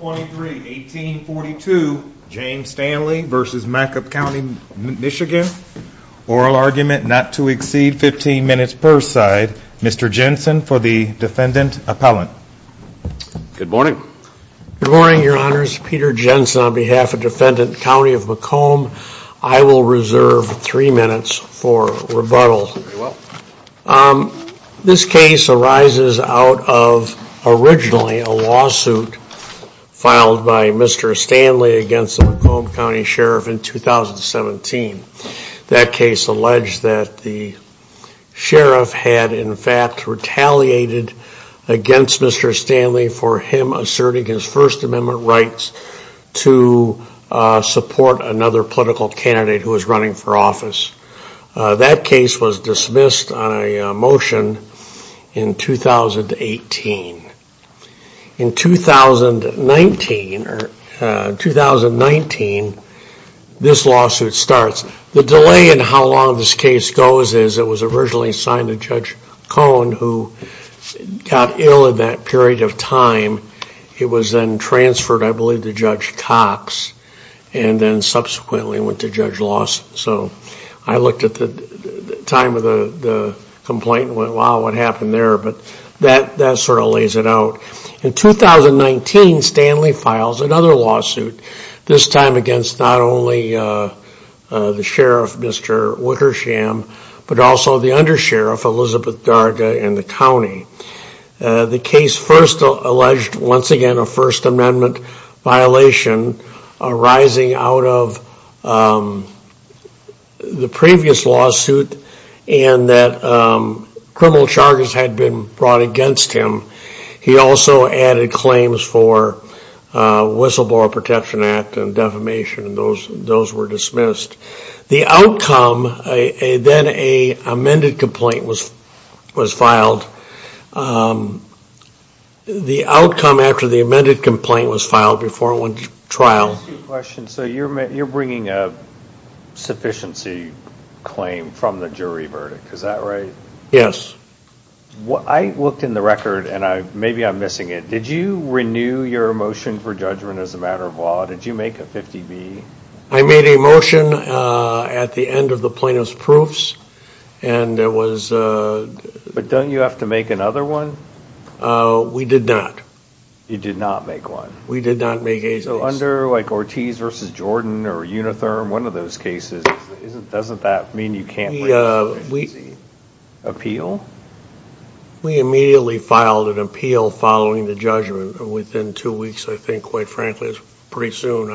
Oral argument not to exceed 15 minutes per side. Mr. Jensen for the Defendant Appellant. Good morning. Good morning, Your Honors. Peter Jensen on behalf of Defendant County of Macomb. I will reserve three minutes for rebuttal. This case arises out of originally a lawsuit filed by Mr. Stanley against the Macomb County Sheriff in 2017. That case alleged that the sheriff had in fact retaliated against Mr. Stanley for him asserting his First Amendment rights to support another political candidate who was running for office. That case was dismissed on a motion in 2018. In 2019, this lawsuit starts. The delay in how long this case goes is it was originally signed to Judge Cohn who got ill in that period of time. It was then transferred, I believe, to Judge Cox and then subsequently went to Judge Lawson. So I looked at the time of the complaint and went, wow, what happened there? But that sort of lays it out. In 2019, Stanley files another lawsuit, this time against not only the sheriff, Mr. Wickersham, but also the undersheriff, Elizabeth Garga, in the county. The case first alleged, once again, a First Amendment violation arising out of the previous lawsuit and that criminal charges had been brought against him. He also added claims for Whistleblower Protection Act and defamation. Those were dismissed. The outcome, then an amended complaint was filed. The outcome after the amended complaint was filed before trial. So you're bringing a sufficiency claim from the jury verdict, is that right? Yes. I looked in the record and maybe I'm missing it. Did you renew your motion for judgment as a matter of law? Did you make a 50-B? I made a motion at the end of the plaintiff's proofs. But don't you have to make another one? We did not. You did not make one? We did not make a case. So under Ortiz v. Jordan or Unitherm, one of those cases, doesn't that mean you can't bring a 50-B appeal? We immediately filed an appeal following the judgment within two weeks, I think, quite frankly. It was pretty soon.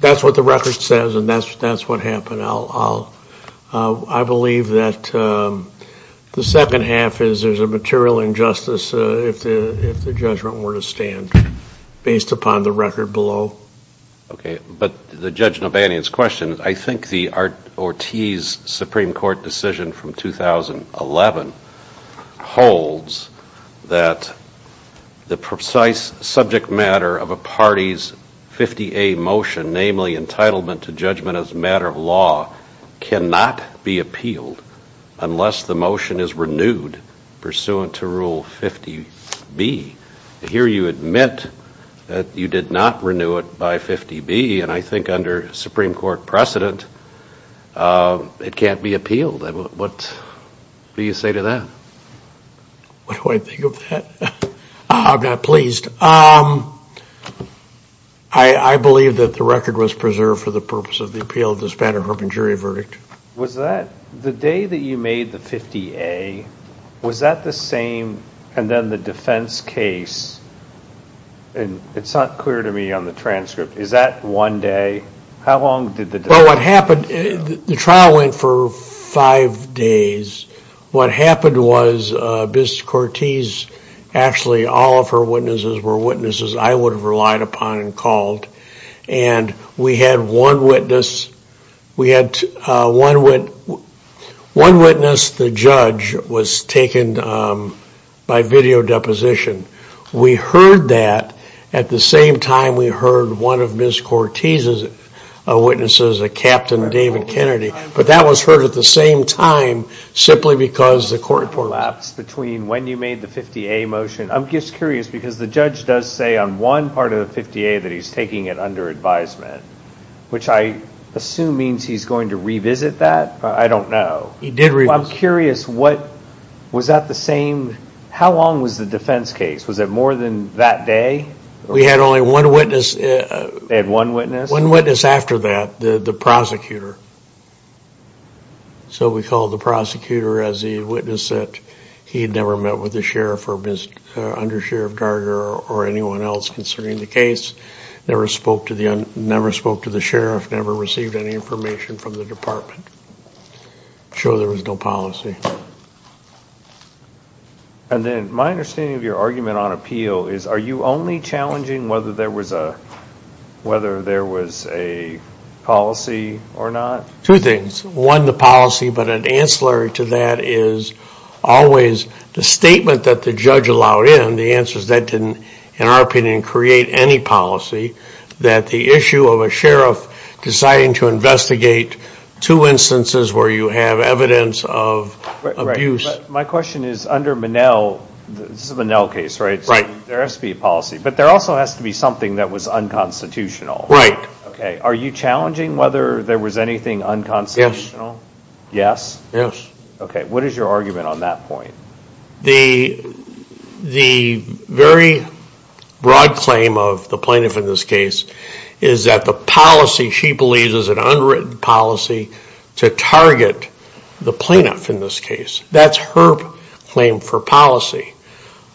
That's what the record says and that's what happened. I believe that the second half is there's a material injustice if the judgment were to stand based upon the record below. But to Judge Nobanian's question, I think the Ortiz Supreme Court decision from 2011 holds that the precise subject matter of a party's 50-A motion, namely entitlement to judgment as a matter of law, cannot be appealed unless the motion is renewed pursuant to Rule 50-B. Here you admit that you did not renew it by 50-B and I think under Supreme Court precedent it can't be appealed. What do you say to that? What do I think of that? I'm not pleased. I believe that the record was preserved for the purpose of the appeal of the Spanner-Herbin jury verdict. The day that you made the 50-A, was that the same and then the defense case? It's not clear to me on the transcript. Is that one day? The trial went for five days. What happened was Ms. Ortiz, actually all of her witnesses were witnesses I would have relied upon and called. One witness, the judge, was taken by video deposition. We heard that at the same time we heard one of Ms. Ortiz's witnesses, Captain David Kennedy. But that was heard at the same time simply because the court... When you made the 50-A motion, I'm just curious because the judge does say on one part of the 50-A that he's taking it under advisement, which I assume means he's going to revisit that. I don't know. I'm curious, was that the same, how long was the defense case? Was it more than that day? We had only one witness. They had one witness? One witness after that, the prosecutor. So we called the prosecutor as he witnessed it. He had never met with the sheriff or under Sheriff Darger or anyone else concerning the case. Never spoke to the sheriff, never received any information from the department. Showed there was no policy. And then my understanding of your argument on appeal is are you only challenging whether there was a policy or not? Two things. One, the policy, but an ancillary to that is always the statement that the judge allowed in. The answer is that didn't, in our opinion, create any policy. That the issue of a sheriff deciding to investigate two instances where you have evidence of abuse. My question is under Monell, this is a Monell case, right? Right. There has to be a policy, but there also has to be something that was unconstitutional. Right. Okay. Are you challenging whether there was anything unconstitutional? Yes. Yes? Yes. Okay. What is your argument on that point? The very broad claim of the plaintiff in this case is that the policy she believes is an unwritten policy to target the plaintiff in this case. That's her claim for policy.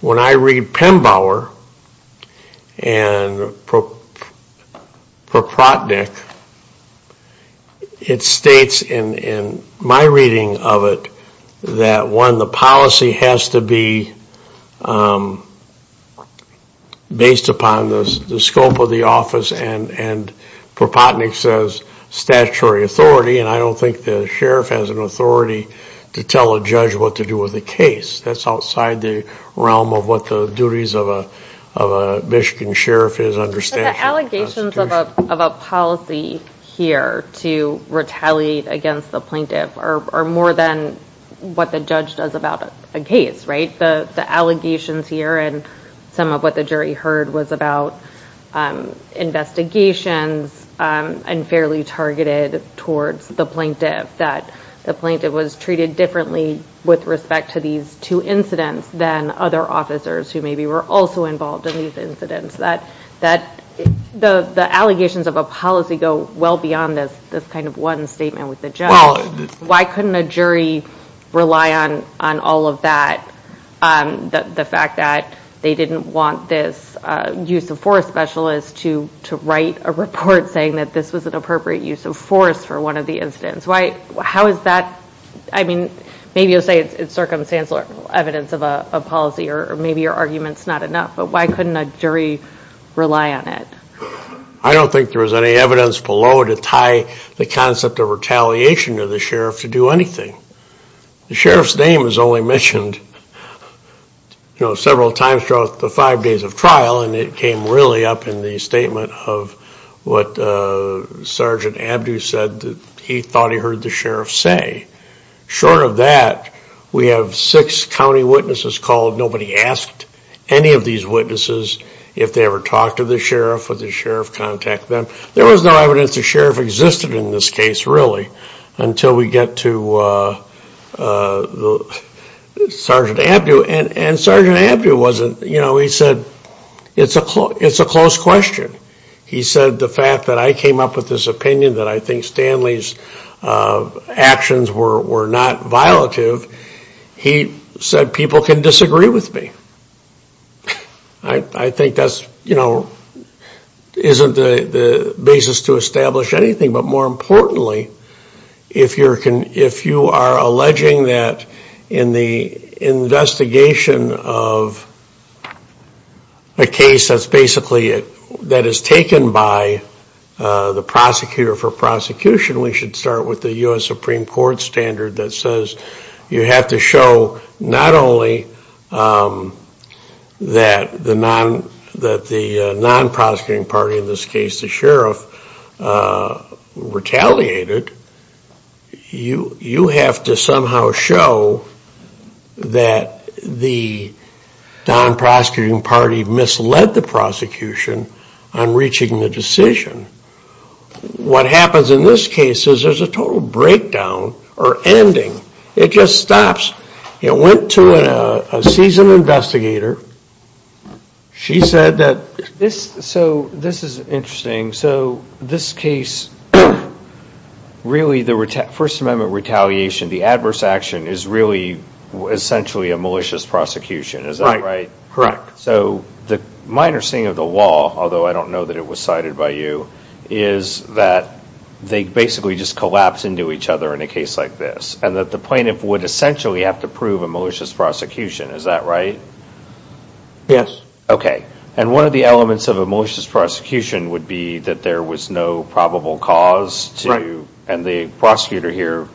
When I read Pembauer and Propotnick, it states in my reading of it that one, the policy has to be based upon the scope of the office. And Propotnick says statutory authority. And I don't think the sheriff has an authority to tell a judge what to do with a case. That's outside the realm of what the duties of a Michigan sheriff is under statute. But the allegations of a policy here to retaliate against the plaintiff are more than what the judge does about a case, right? The allegations here and some of what the jury heard was about investigations and fairly targeted towards the plaintiff. That the plaintiff was treated differently with respect to these two incidents than other officers who maybe were also involved in these incidents. That the allegations of a policy go well beyond this kind of one statement with the judge. Why couldn't a jury rely on all of that? The fact that they didn't want this use of force specialist to write a report saying that this was an appropriate use of force for one of the incidents. How is that, I mean, maybe you'll say it's circumstantial evidence of a policy or maybe your argument's not enough. But why couldn't a jury rely on it? I don't think there was any evidence below to tie the concept of retaliation to the sheriff to do anything. The sheriff's name is only mentioned several times throughout the five days of trial. And it came really up in the statement of what Sergeant Abdu said that he thought he heard the sheriff say. Short of that, we have six county witnesses called. Nobody asked any of these witnesses if they ever talked to the sheriff or the sheriff contacted them. There was no evidence the sheriff existed in this case really until we get to Sergeant Abdu. And Sergeant Abdu wasn't, you know, he said it's a close question. He said the fact that I came up with this opinion that I think Stanley's actions were not violative, he said people can disagree with me. I think that's, you know, isn't the basis to establish anything. But more importantly, if you are alleging that in the investigation of a case that's basically that is taken by the prosecutor for prosecution, we should start with the U.S. Supreme Court standard that says you have to show not only that the non-prosecuting party, in this case the sheriff, retaliated. You have to somehow show that the non-prosecuting party misled the prosecution on reaching the decision. What happens in this case is there's a total breakdown or ending. It just stops. It went to a seasoned investigator. She said that... So this is interesting. So this case, really the First Amendment retaliation, the adverse action is really essentially a malicious prosecution. Is that right? Correct. So the minor sting of the law, although I don't know that it was cited by you, is that they basically just collapse into each other in a case like this. And that the plaintiff would essentially have to prove a malicious prosecution. Is that right? Yes. Okay. And one of the elements of a malicious prosecution would be that there was no probable cause to... And the prosecutor here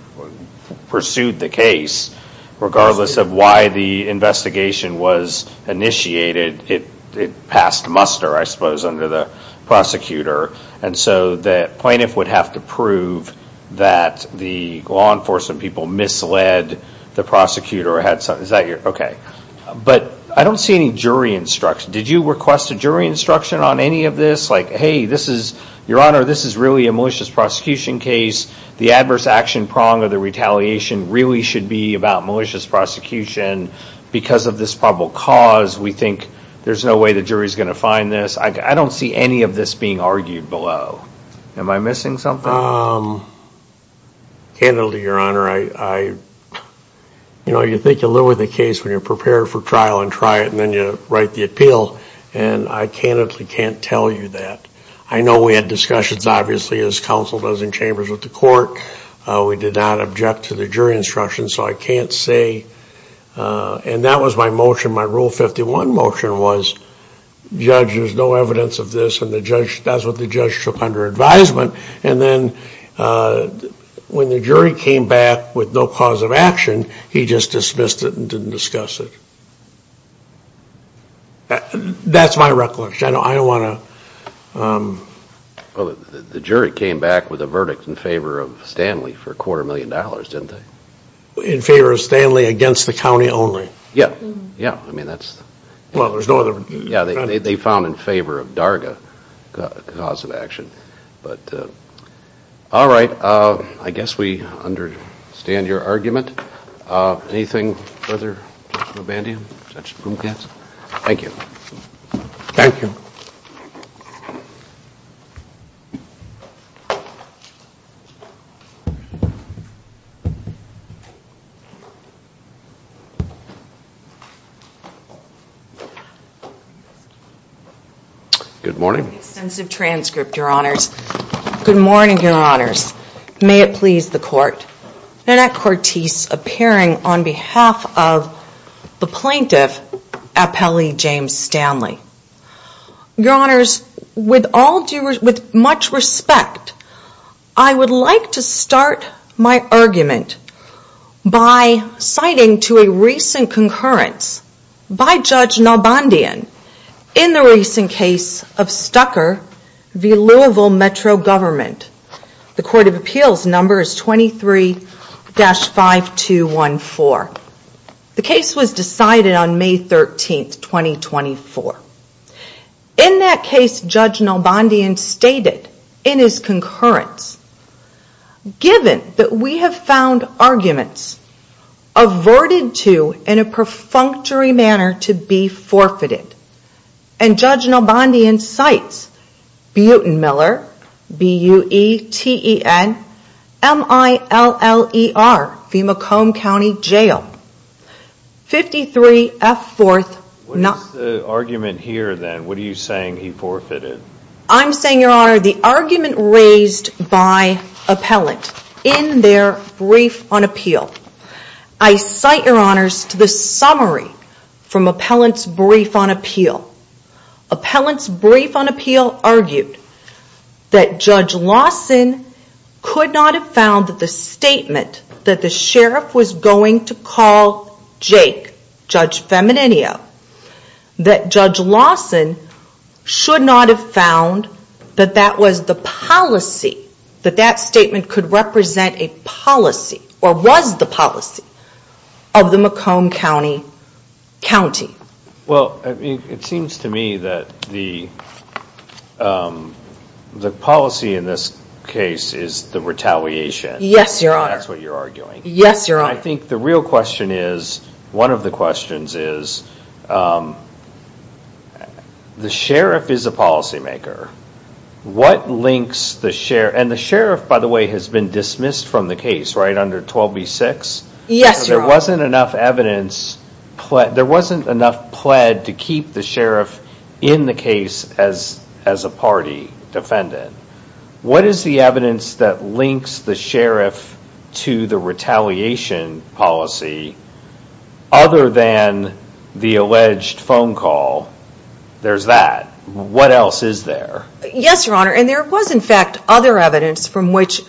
pursued the case regardless of why the investigation was initiated. It passed muster, I suppose, under the prosecutor. And so the plaintiff would have to prove that the law enforcement people misled the prosecutor. Is that your... But I don't see any jury instruction. Did you request a jury instruction on any of this? Like, hey, this is... Your Honor, this is really a malicious prosecution case. The adverse action prong of the retaliation really should be about malicious prosecution. Because of this probable cause, we think there's no way the jury's going to find this. I don't see any of this being argued below. Am I missing something? Candidly, Your Honor, I... You know, you think you'll lower the case when you're prepared for trial and try it, and then you write the appeal. And I candidly can't tell you that. I know we had discussions, obviously, as counsel does in chambers with the court. We did not object to the jury instruction. So I can't say... And that was my motion. My Rule 51 motion was, judge, there's no evidence of this, and that's what the judge took under advisement. And then when the jury came back with no cause of action, he just dismissed it and didn't discuss it. That's my recollection. I don't want to... Well, the jury came back with a verdict in favor of Stanley for a quarter million dollars, didn't they? In favor of Stanley against the county only. Yeah, yeah. I mean, that's... Well, there's no other... Yeah, they found in favor of Darga cause of action. But... All right. I guess we understand your argument. Anything further? Judge Mobandian? Judge Bumgatz? Thank you. Thank you. Good morning. Extensive transcript, your honors. Good morning, your honors. May it please the court. Nanette Cortese appearing on behalf of the plaintiff, appellee James Stanley. Your honors, with all due... With much respect, I would like to start my argument by citing to a recent congressional hearing a concurrence by Judge Mobandian in the recent case of Stucker v. Louisville Metro Government. The court of appeals number is 23-5214. The case was decided on May 13th, 2024. In that case, Judge Mobandian stated in his concurrence, given that we have found arguments averted to in a perfunctory manner to be forfeited, and Judge Mobandian cites Butenmiller, B-U-E-T-E-N, M-I-L-L-E-R, Femacombe County Jail, 53 F-4th... What is the argument here then? What are you saying he forfeited? I'm saying, your honor, the argument raised by appellant in their brief on appeal. I cite, your honors, to the summary from appellant's brief on appeal. Appellant's brief on appeal argued that Judge Lawson could not have found the statement that the sheriff was going to call Jake, Judge Femininio, that Judge Lawson should not have found that that was the policy, that that statement could represent a policy or was the policy of the Macomb County County. Well, it seems to me that the policy in this case is the retaliation. Yes, your honor. That's what you're arguing. Yes, your honor. I think the real question is, one of the questions is, the sheriff is a policymaker. What links the sheriff, and the sheriff, by the way, has been dismissed from the case, right, under 12B-6? Yes, your honor. There wasn't enough evidence, there wasn't enough pled to keep the sheriff in the case as a party defendant. What is the evidence that links the sheriff to the retaliation policy other than the alleged phone call? There's that. What else is there? Yes, your honor, and there was in fact other evidence from which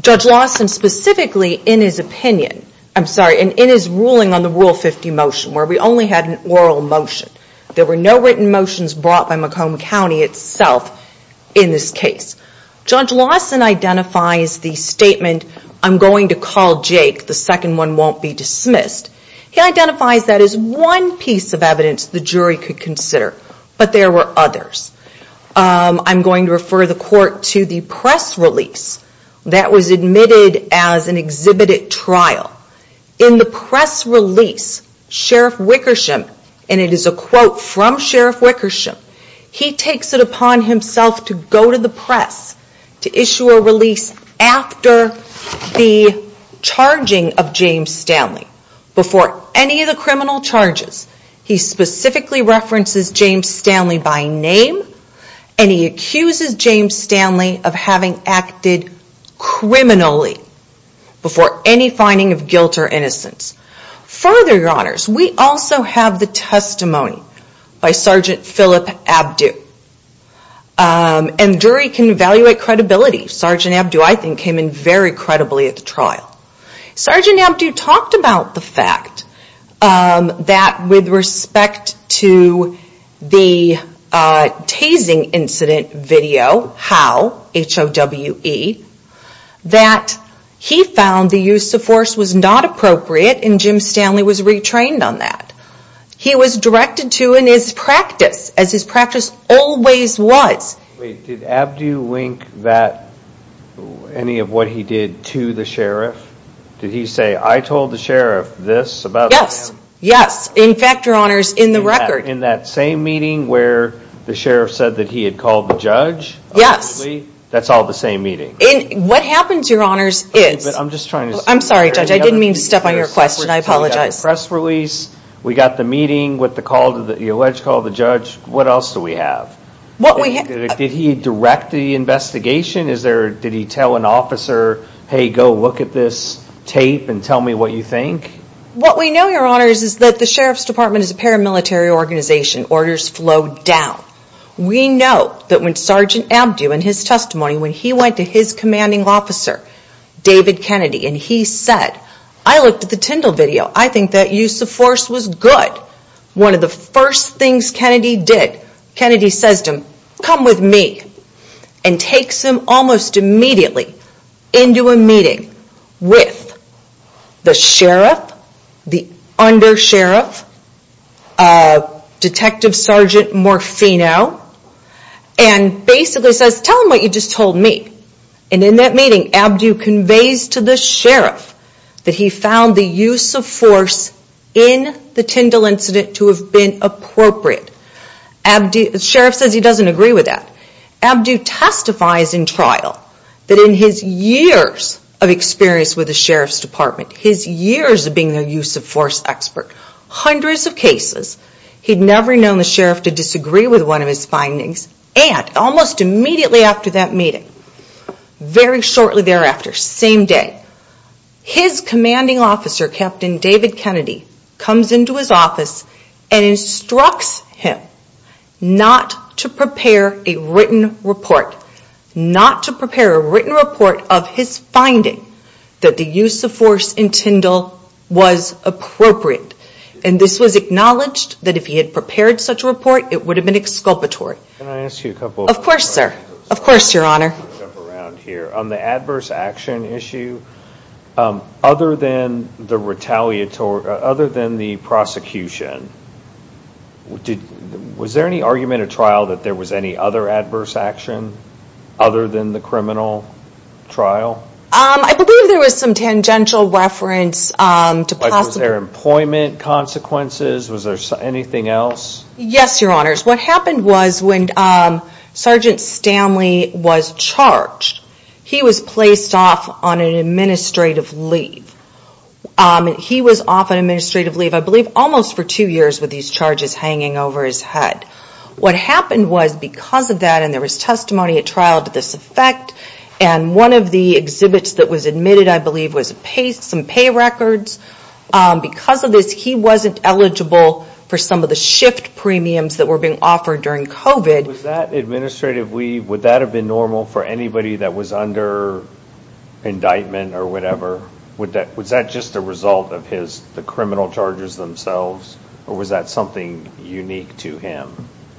Judge Lawson specifically in his opinion, I'm sorry, in his ruling on the Rule 50 motion where we only had an oral motion. There were no written motions brought by Macomb County itself in this case. Judge Lawson identifies the statement, I'm going to call Jake, the second one won't be dismissed. He identifies that as one piece of evidence the jury could consider, but there were others. I'm going to refer the court to the press release that was admitted as an exhibited trial. In the press release, Sheriff Wickersham, and it is a quote from Sheriff Wickersham, he takes it upon himself to go to the press to issue a release after the charging of James Stanley before any of the criminal charges. He specifically references James Stanley by name and he accuses James Stanley of having acted criminally before any finding of guilt or innocence. Further, your honors, we also have the testimony by Sgt. Philip Abdu. And the jury can evaluate credibility. Sgt. Abdu, I think, came in very credibly at the trial. Sgt. Abdu talked about the fact that with respect to the tasing incident video, Howe, H-O-W-E, that he found the use of force was not appropriate and James Stanley was retrained on that. He was directed to in his practice, as his practice always was. Wait, did Abdu link that, any of what he did to the sheriff? Did he say, I told the sheriff this about him? Yes, yes. In fact, your honors, in the record. In that same meeting where the sheriff said that he had called the judge? Yes. That's all the same meeting. What happens, your honors, is... I'm just trying to... I'm sorry, Judge, I didn't mean to step on your question. I apologize. We got the press release. We got the meeting with the alleged call to the judge. What else do we have? What we have... Did he direct the investigation? Did he tell an officer, hey, go look at this tape and tell me what you think? What we know, your honors, is that the sheriff's department is a paramilitary organization. Orders flow down. We know that when Sgt. Abdu, in his testimony, when he went to his commanding officer, David Kennedy, and he said, I looked at the Tyndall video. I think that use of force was good. One of the first things Kennedy did, Kennedy says to him, come with me, and takes him almost immediately into a meeting with the sheriff, the under-sheriff, Detective Sgt. Morfino, and basically says, tell him what you just told me. And in that meeting, Abdu conveys to the sheriff that he found the use of force in the Tyndall incident to have been appropriate. The sheriff says he doesn't agree with that. Abdu testifies in trial that in his years of experience with the sheriff's department, his years of being a use of force expert, hundreds of cases, he'd never known the sheriff to disagree with one of his findings, and almost immediately after that meeting, very shortly thereafter, same day, his commanding officer, Captain David Kennedy, comes into his office and instructs him not to prepare a written report. Not to prepare a written report of his finding that the use of force in Tyndall was appropriate. And this was acknowledged that if he had prepared such a report, it would have been exculpatory. Can I ask you a couple of questions? Of course, sir. Of course, Your Honor. On the adverse action issue, other than the prosecution, was there any argument at trial that there was any other adverse action other than the criminal trial? I believe there was some tangential reference to possible... Was there employment consequences? Was there anything else? Yes, Your Honor. What happened was when Sergeant Stanley was charged, he was placed off on an administrative leave. He was off on administrative leave, I believe, almost for two years with these charges hanging over his head. What happened was because of that, and there was testimony at trial to this effect, and one of the exhibits that was admitted, I believe, was some pay records. Because of this, he wasn't eligible for some of the shift premiums that were being offered during COVID. Was that administrative leave, would that have been normal for anybody that was under indictment or whatever? Was that just a result of the criminal charges themselves, or was that something unique to him?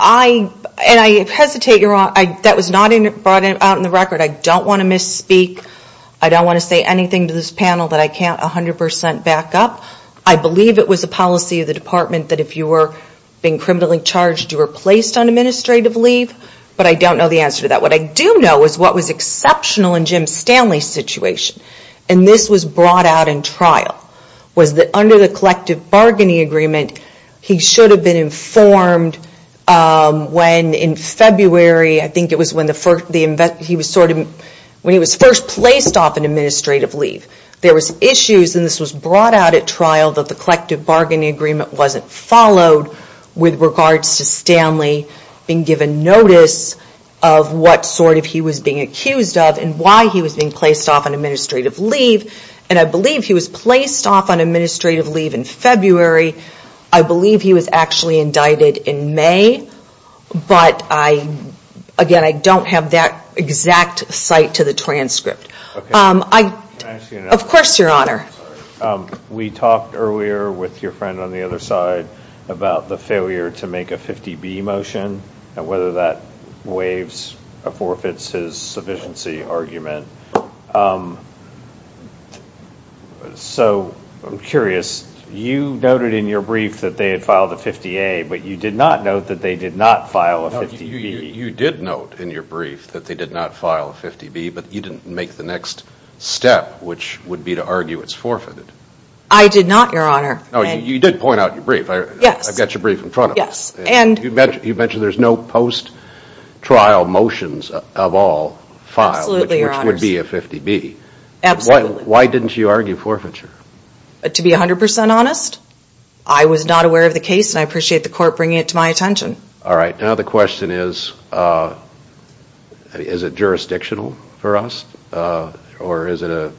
And I hesitate, Your Honor, that was not brought out in the record. I don't want to misspeak. I don't want to say anything to this panel that I can't 100% back up. I believe it was a policy of the department that if you were being criminally charged, you were placed on administrative leave, but I don't know the answer to that. What I do know is what was exceptional in Jim Stanley's situation, and this was brought out in trial, was that under the collective bargaining agreement, he should have been informed when, in February, I think it was when he was first placed off on administrative leave. There was issues, and this was brought out at trial, that the collective bargaining agreement wasn't followed with regards to Stanley being given notice of what sort of he was being accused of and why he was being placed off on administrative leave, and I believe he was placed off on administrative leave in February. I believe he was actually indicted in May, but again, I don't have that exact cite to the transcript. Of course, Your Honor. We talked earlier with your friend on the other side about the failure to make a 50B motion and whether that forfeits his sufficiency argument. So I'm curious. You noted in your brief that they had filed a 50A, but you did not note that they did not file a 50B. You did note in your brief that they did not file a 50B, but you didn't make the next step, which would be to argue it's forfeited. I did not, Your Honor. You did point out in your brief. I've got your brief in front of me. You mentioned there's no post-trial motions of all filed, which would be a 50B. Absolutely. Why didn't you argue forfeiture? To be 100% honest, I was not aware of the case, and I appreciate the court bringing it to my attention. All right. Now the question is, is it jurisdictional for us, or is it a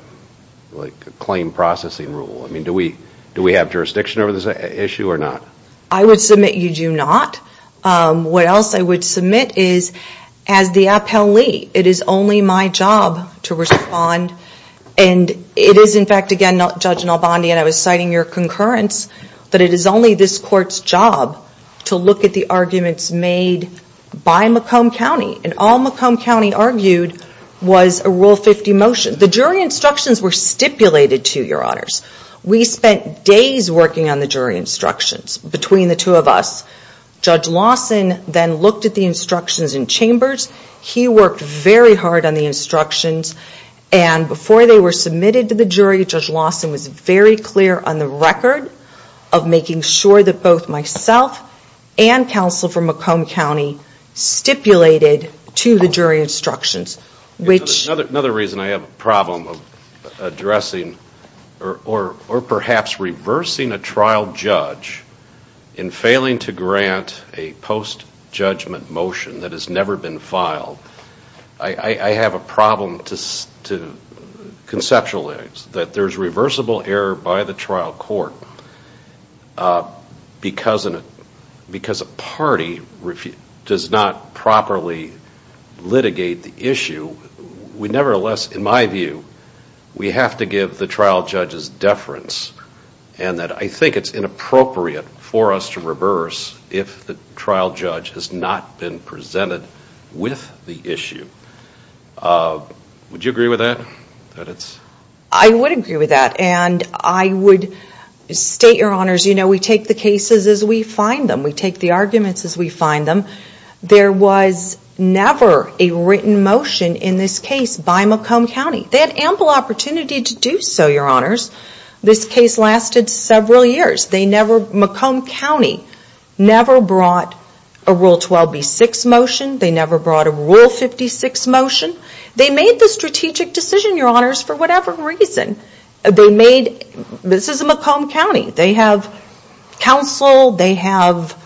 claim processing rule? Do we have jurisdiction over this issue or not? I would submit you do not. What else I would submit is, as the appellee, it is only my job to respond. And it is, in fact, again, Judge Nalbandi, and I was citing your concurrence, that it is only this court's job to look at the arguments made by Macomb County, and all Macomb County argued was a Rule 50 motion. The jury instructions were stipulated to, Your Honors. We spent days working on the jury instructions, between the two of us. Judge Lawson then looked at the instructions in chambers. He worked very hard on the instructions, and before they were submitted to the jury, Judge Lawson was very clear on the record of making sure that both myself and counsel from Macomb County stipulated to the jury instructions. Another reason I have a problem addressing, or perhaps reversing a trial judge, in failing to grant a post-judgment motion that has never been filed, I have a problem to conceptualize that there is reversible error by the trial court. Because a party does not properly litigate the issue, nevertheless, in my view, we have to give the trial judge's deference, and that I think it is inappropriate for us to reverse if the trial judge has not been presented with the issue. Would you agree with that? I would agree with that. And I would state, Your Honors, we take the cases as we find them. We take the arguments as we find them. There was never a written motion in this case by Macomb County. They had ample opportunity to do so, Your Honors. This case lasted several years. Macomb County never brought a Rule 12b-6 motion. They never brought a Rule 56 motion. They made the strategic decision, Your Honors, for whatever reason. This is a Macomb County. They have counsel. They have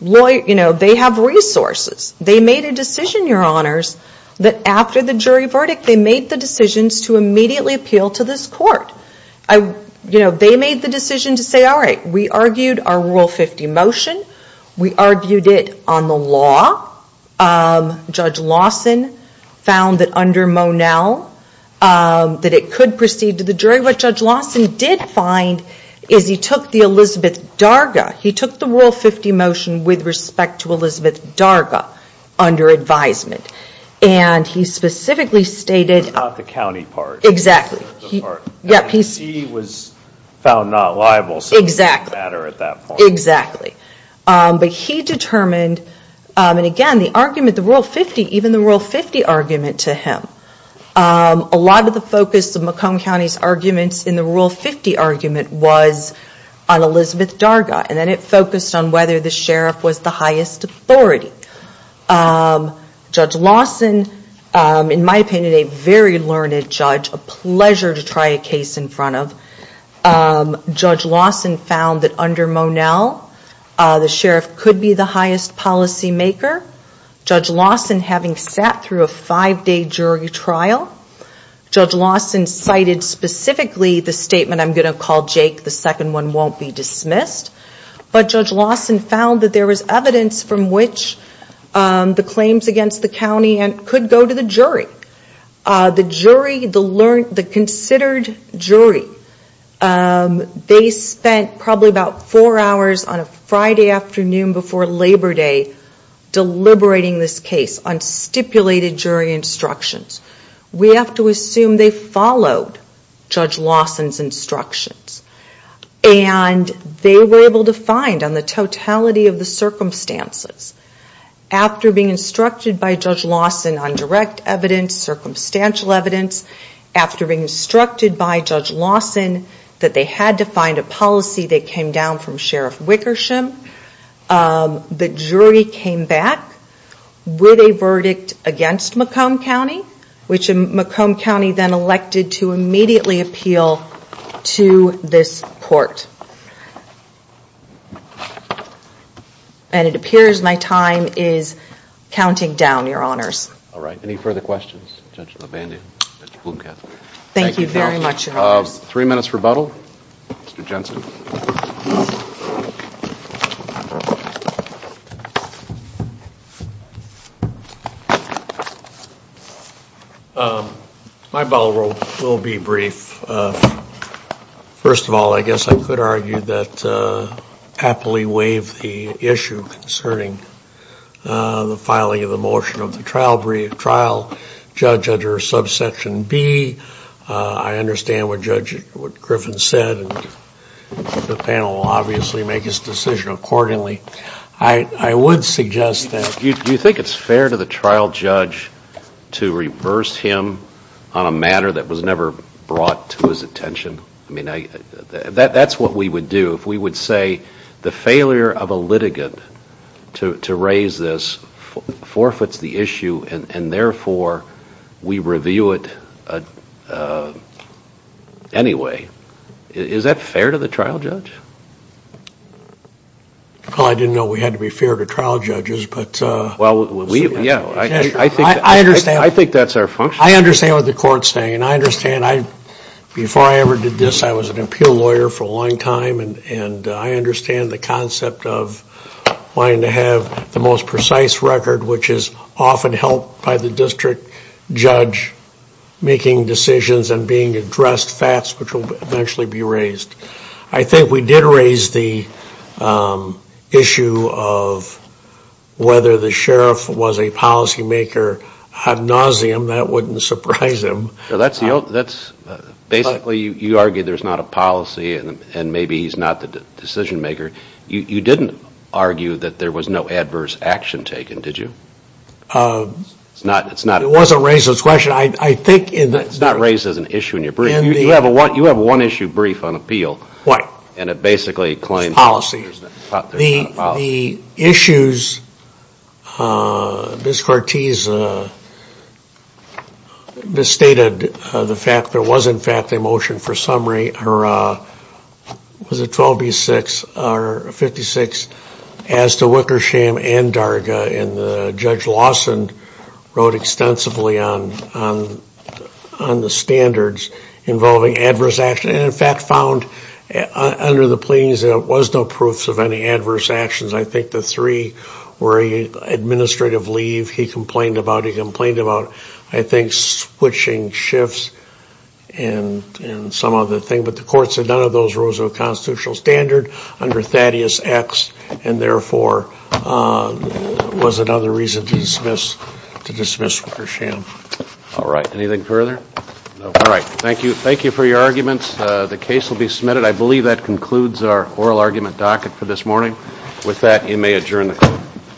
resources. They made a decision, Your Honors, that after the jury verdict, they made the decisions to immediately appeal to this court. They made the decision to say, Judge Lawson found that under Monell, that it could proceed to the jury. What Judge Lawson did find is he took the Elizabeth Darga. He took the Rule 50 motion with respect to Elizabeth Darga under advisement. And he specifically stated... About the county part. Exactly. He was found not liable. Exactly. So it didn't matter at that point. Exactly. But he determined... And again, the argument, the Rule 50, even the Rule 50 argument to him. A lot of the focus of Macomb County's arguments in the Rule 50 argument was on Elizabeth Darga. And then it focused on whether the sheriff was the highest authority. Judge Lawson, in my opinion, a very learned judge. A pleasure to try a case in front of. Judge Lawson found that under Monell, the sheriff could be the highest policy maker. Judge Lawson, having sat through a five-day jury trial, Judge Lawson cited specifically the statement, I'm going to call Jake the second one won't be dismissed. But Judge Lawson found that there was evidence from which the claims against the county could go to the jury. The jury, the considered jury, they spent probably about four hours on a Friday afternoon before Labor Day deliberating this case on stipulated jury instructions. We have to assume they followed Judge Lawson's instructions. And they were able to find, on the totality of the circumstances, after being instructed by Judge Lawson on direct evidence, circumstantial evidence, after being instructed by Judge Lawson that they had to find a policy that came down from Sheriff Wickersham, the jury came back with a verdict against Macomb County, which Macomb County then elected to immediately appeal to this court. And it appears my time is counting down, Your Honors. All right, any further questions? Judge Labande, Judge Blumkopf. Thank you very much, Your Honors. Three minutes rebuttal, Mr. Jensen. My rebuttal will be brief. First of all, I guess I could argue that I happily waive the issue concerning the filing of the motion of the trial judge under subsection B. I understand what Judge Griffin said, and the panel will obviously make its decision accordingly. I would suggest that... Do you think it's fair to the trial judge to reverse him on a matter that was never brought to his attention? I mean, that's what we would do if we would say the failure of a litigant to raise this forfeits the issue, and therefore we review it anyway. Is that fair to the trial judge? Well, I didn't know we had to be fair to trial judges, but... Well, yeah, I think that's our function. I understand what the court's saying, and I understand, before I ever did this, I was an appeal lawyer for a long time, and I understand the concept of wanting to have the most precise record, which is often helped by the district judge making decisions and being addressed fast, which will eventually be raised. I think we did raise the issue of whether the sheriff was a policymaker ad nauseum. That wouldn't surprise him. Basically, you argue there's not a policy, and maybe he's not the decision-maker. You didn't argue that there was no adverse action taken, did you? It wasn't raised as a question. It's not raised as an issue in your brief. You have one issue brief on appeal, and it basically claims there's not a policy. The issues... Ms. Cortese misstated the fact there was, in fact, a motion for summary, or was it 12B-6 or 56, as to Wickersham and Darga, and Judge Lawson wrote extensively on the standards involving adverse action and, in fact, found, under the pleadings, there was no proof of any adverse actions. I think the three were an administrative leave. He complained about it. He complained about, I think, switching shifts and some other thing, but the court said none of those rules were a constitutional standard under Thaddeus X, and therefore was another reason to dismiss Wickersham. All right. Anything further? No. All right. Thank you. Thank you for your arguments. The case will be submitted. I believe that concludes our oral argument docket for this morning. With that, you may adjourn the court.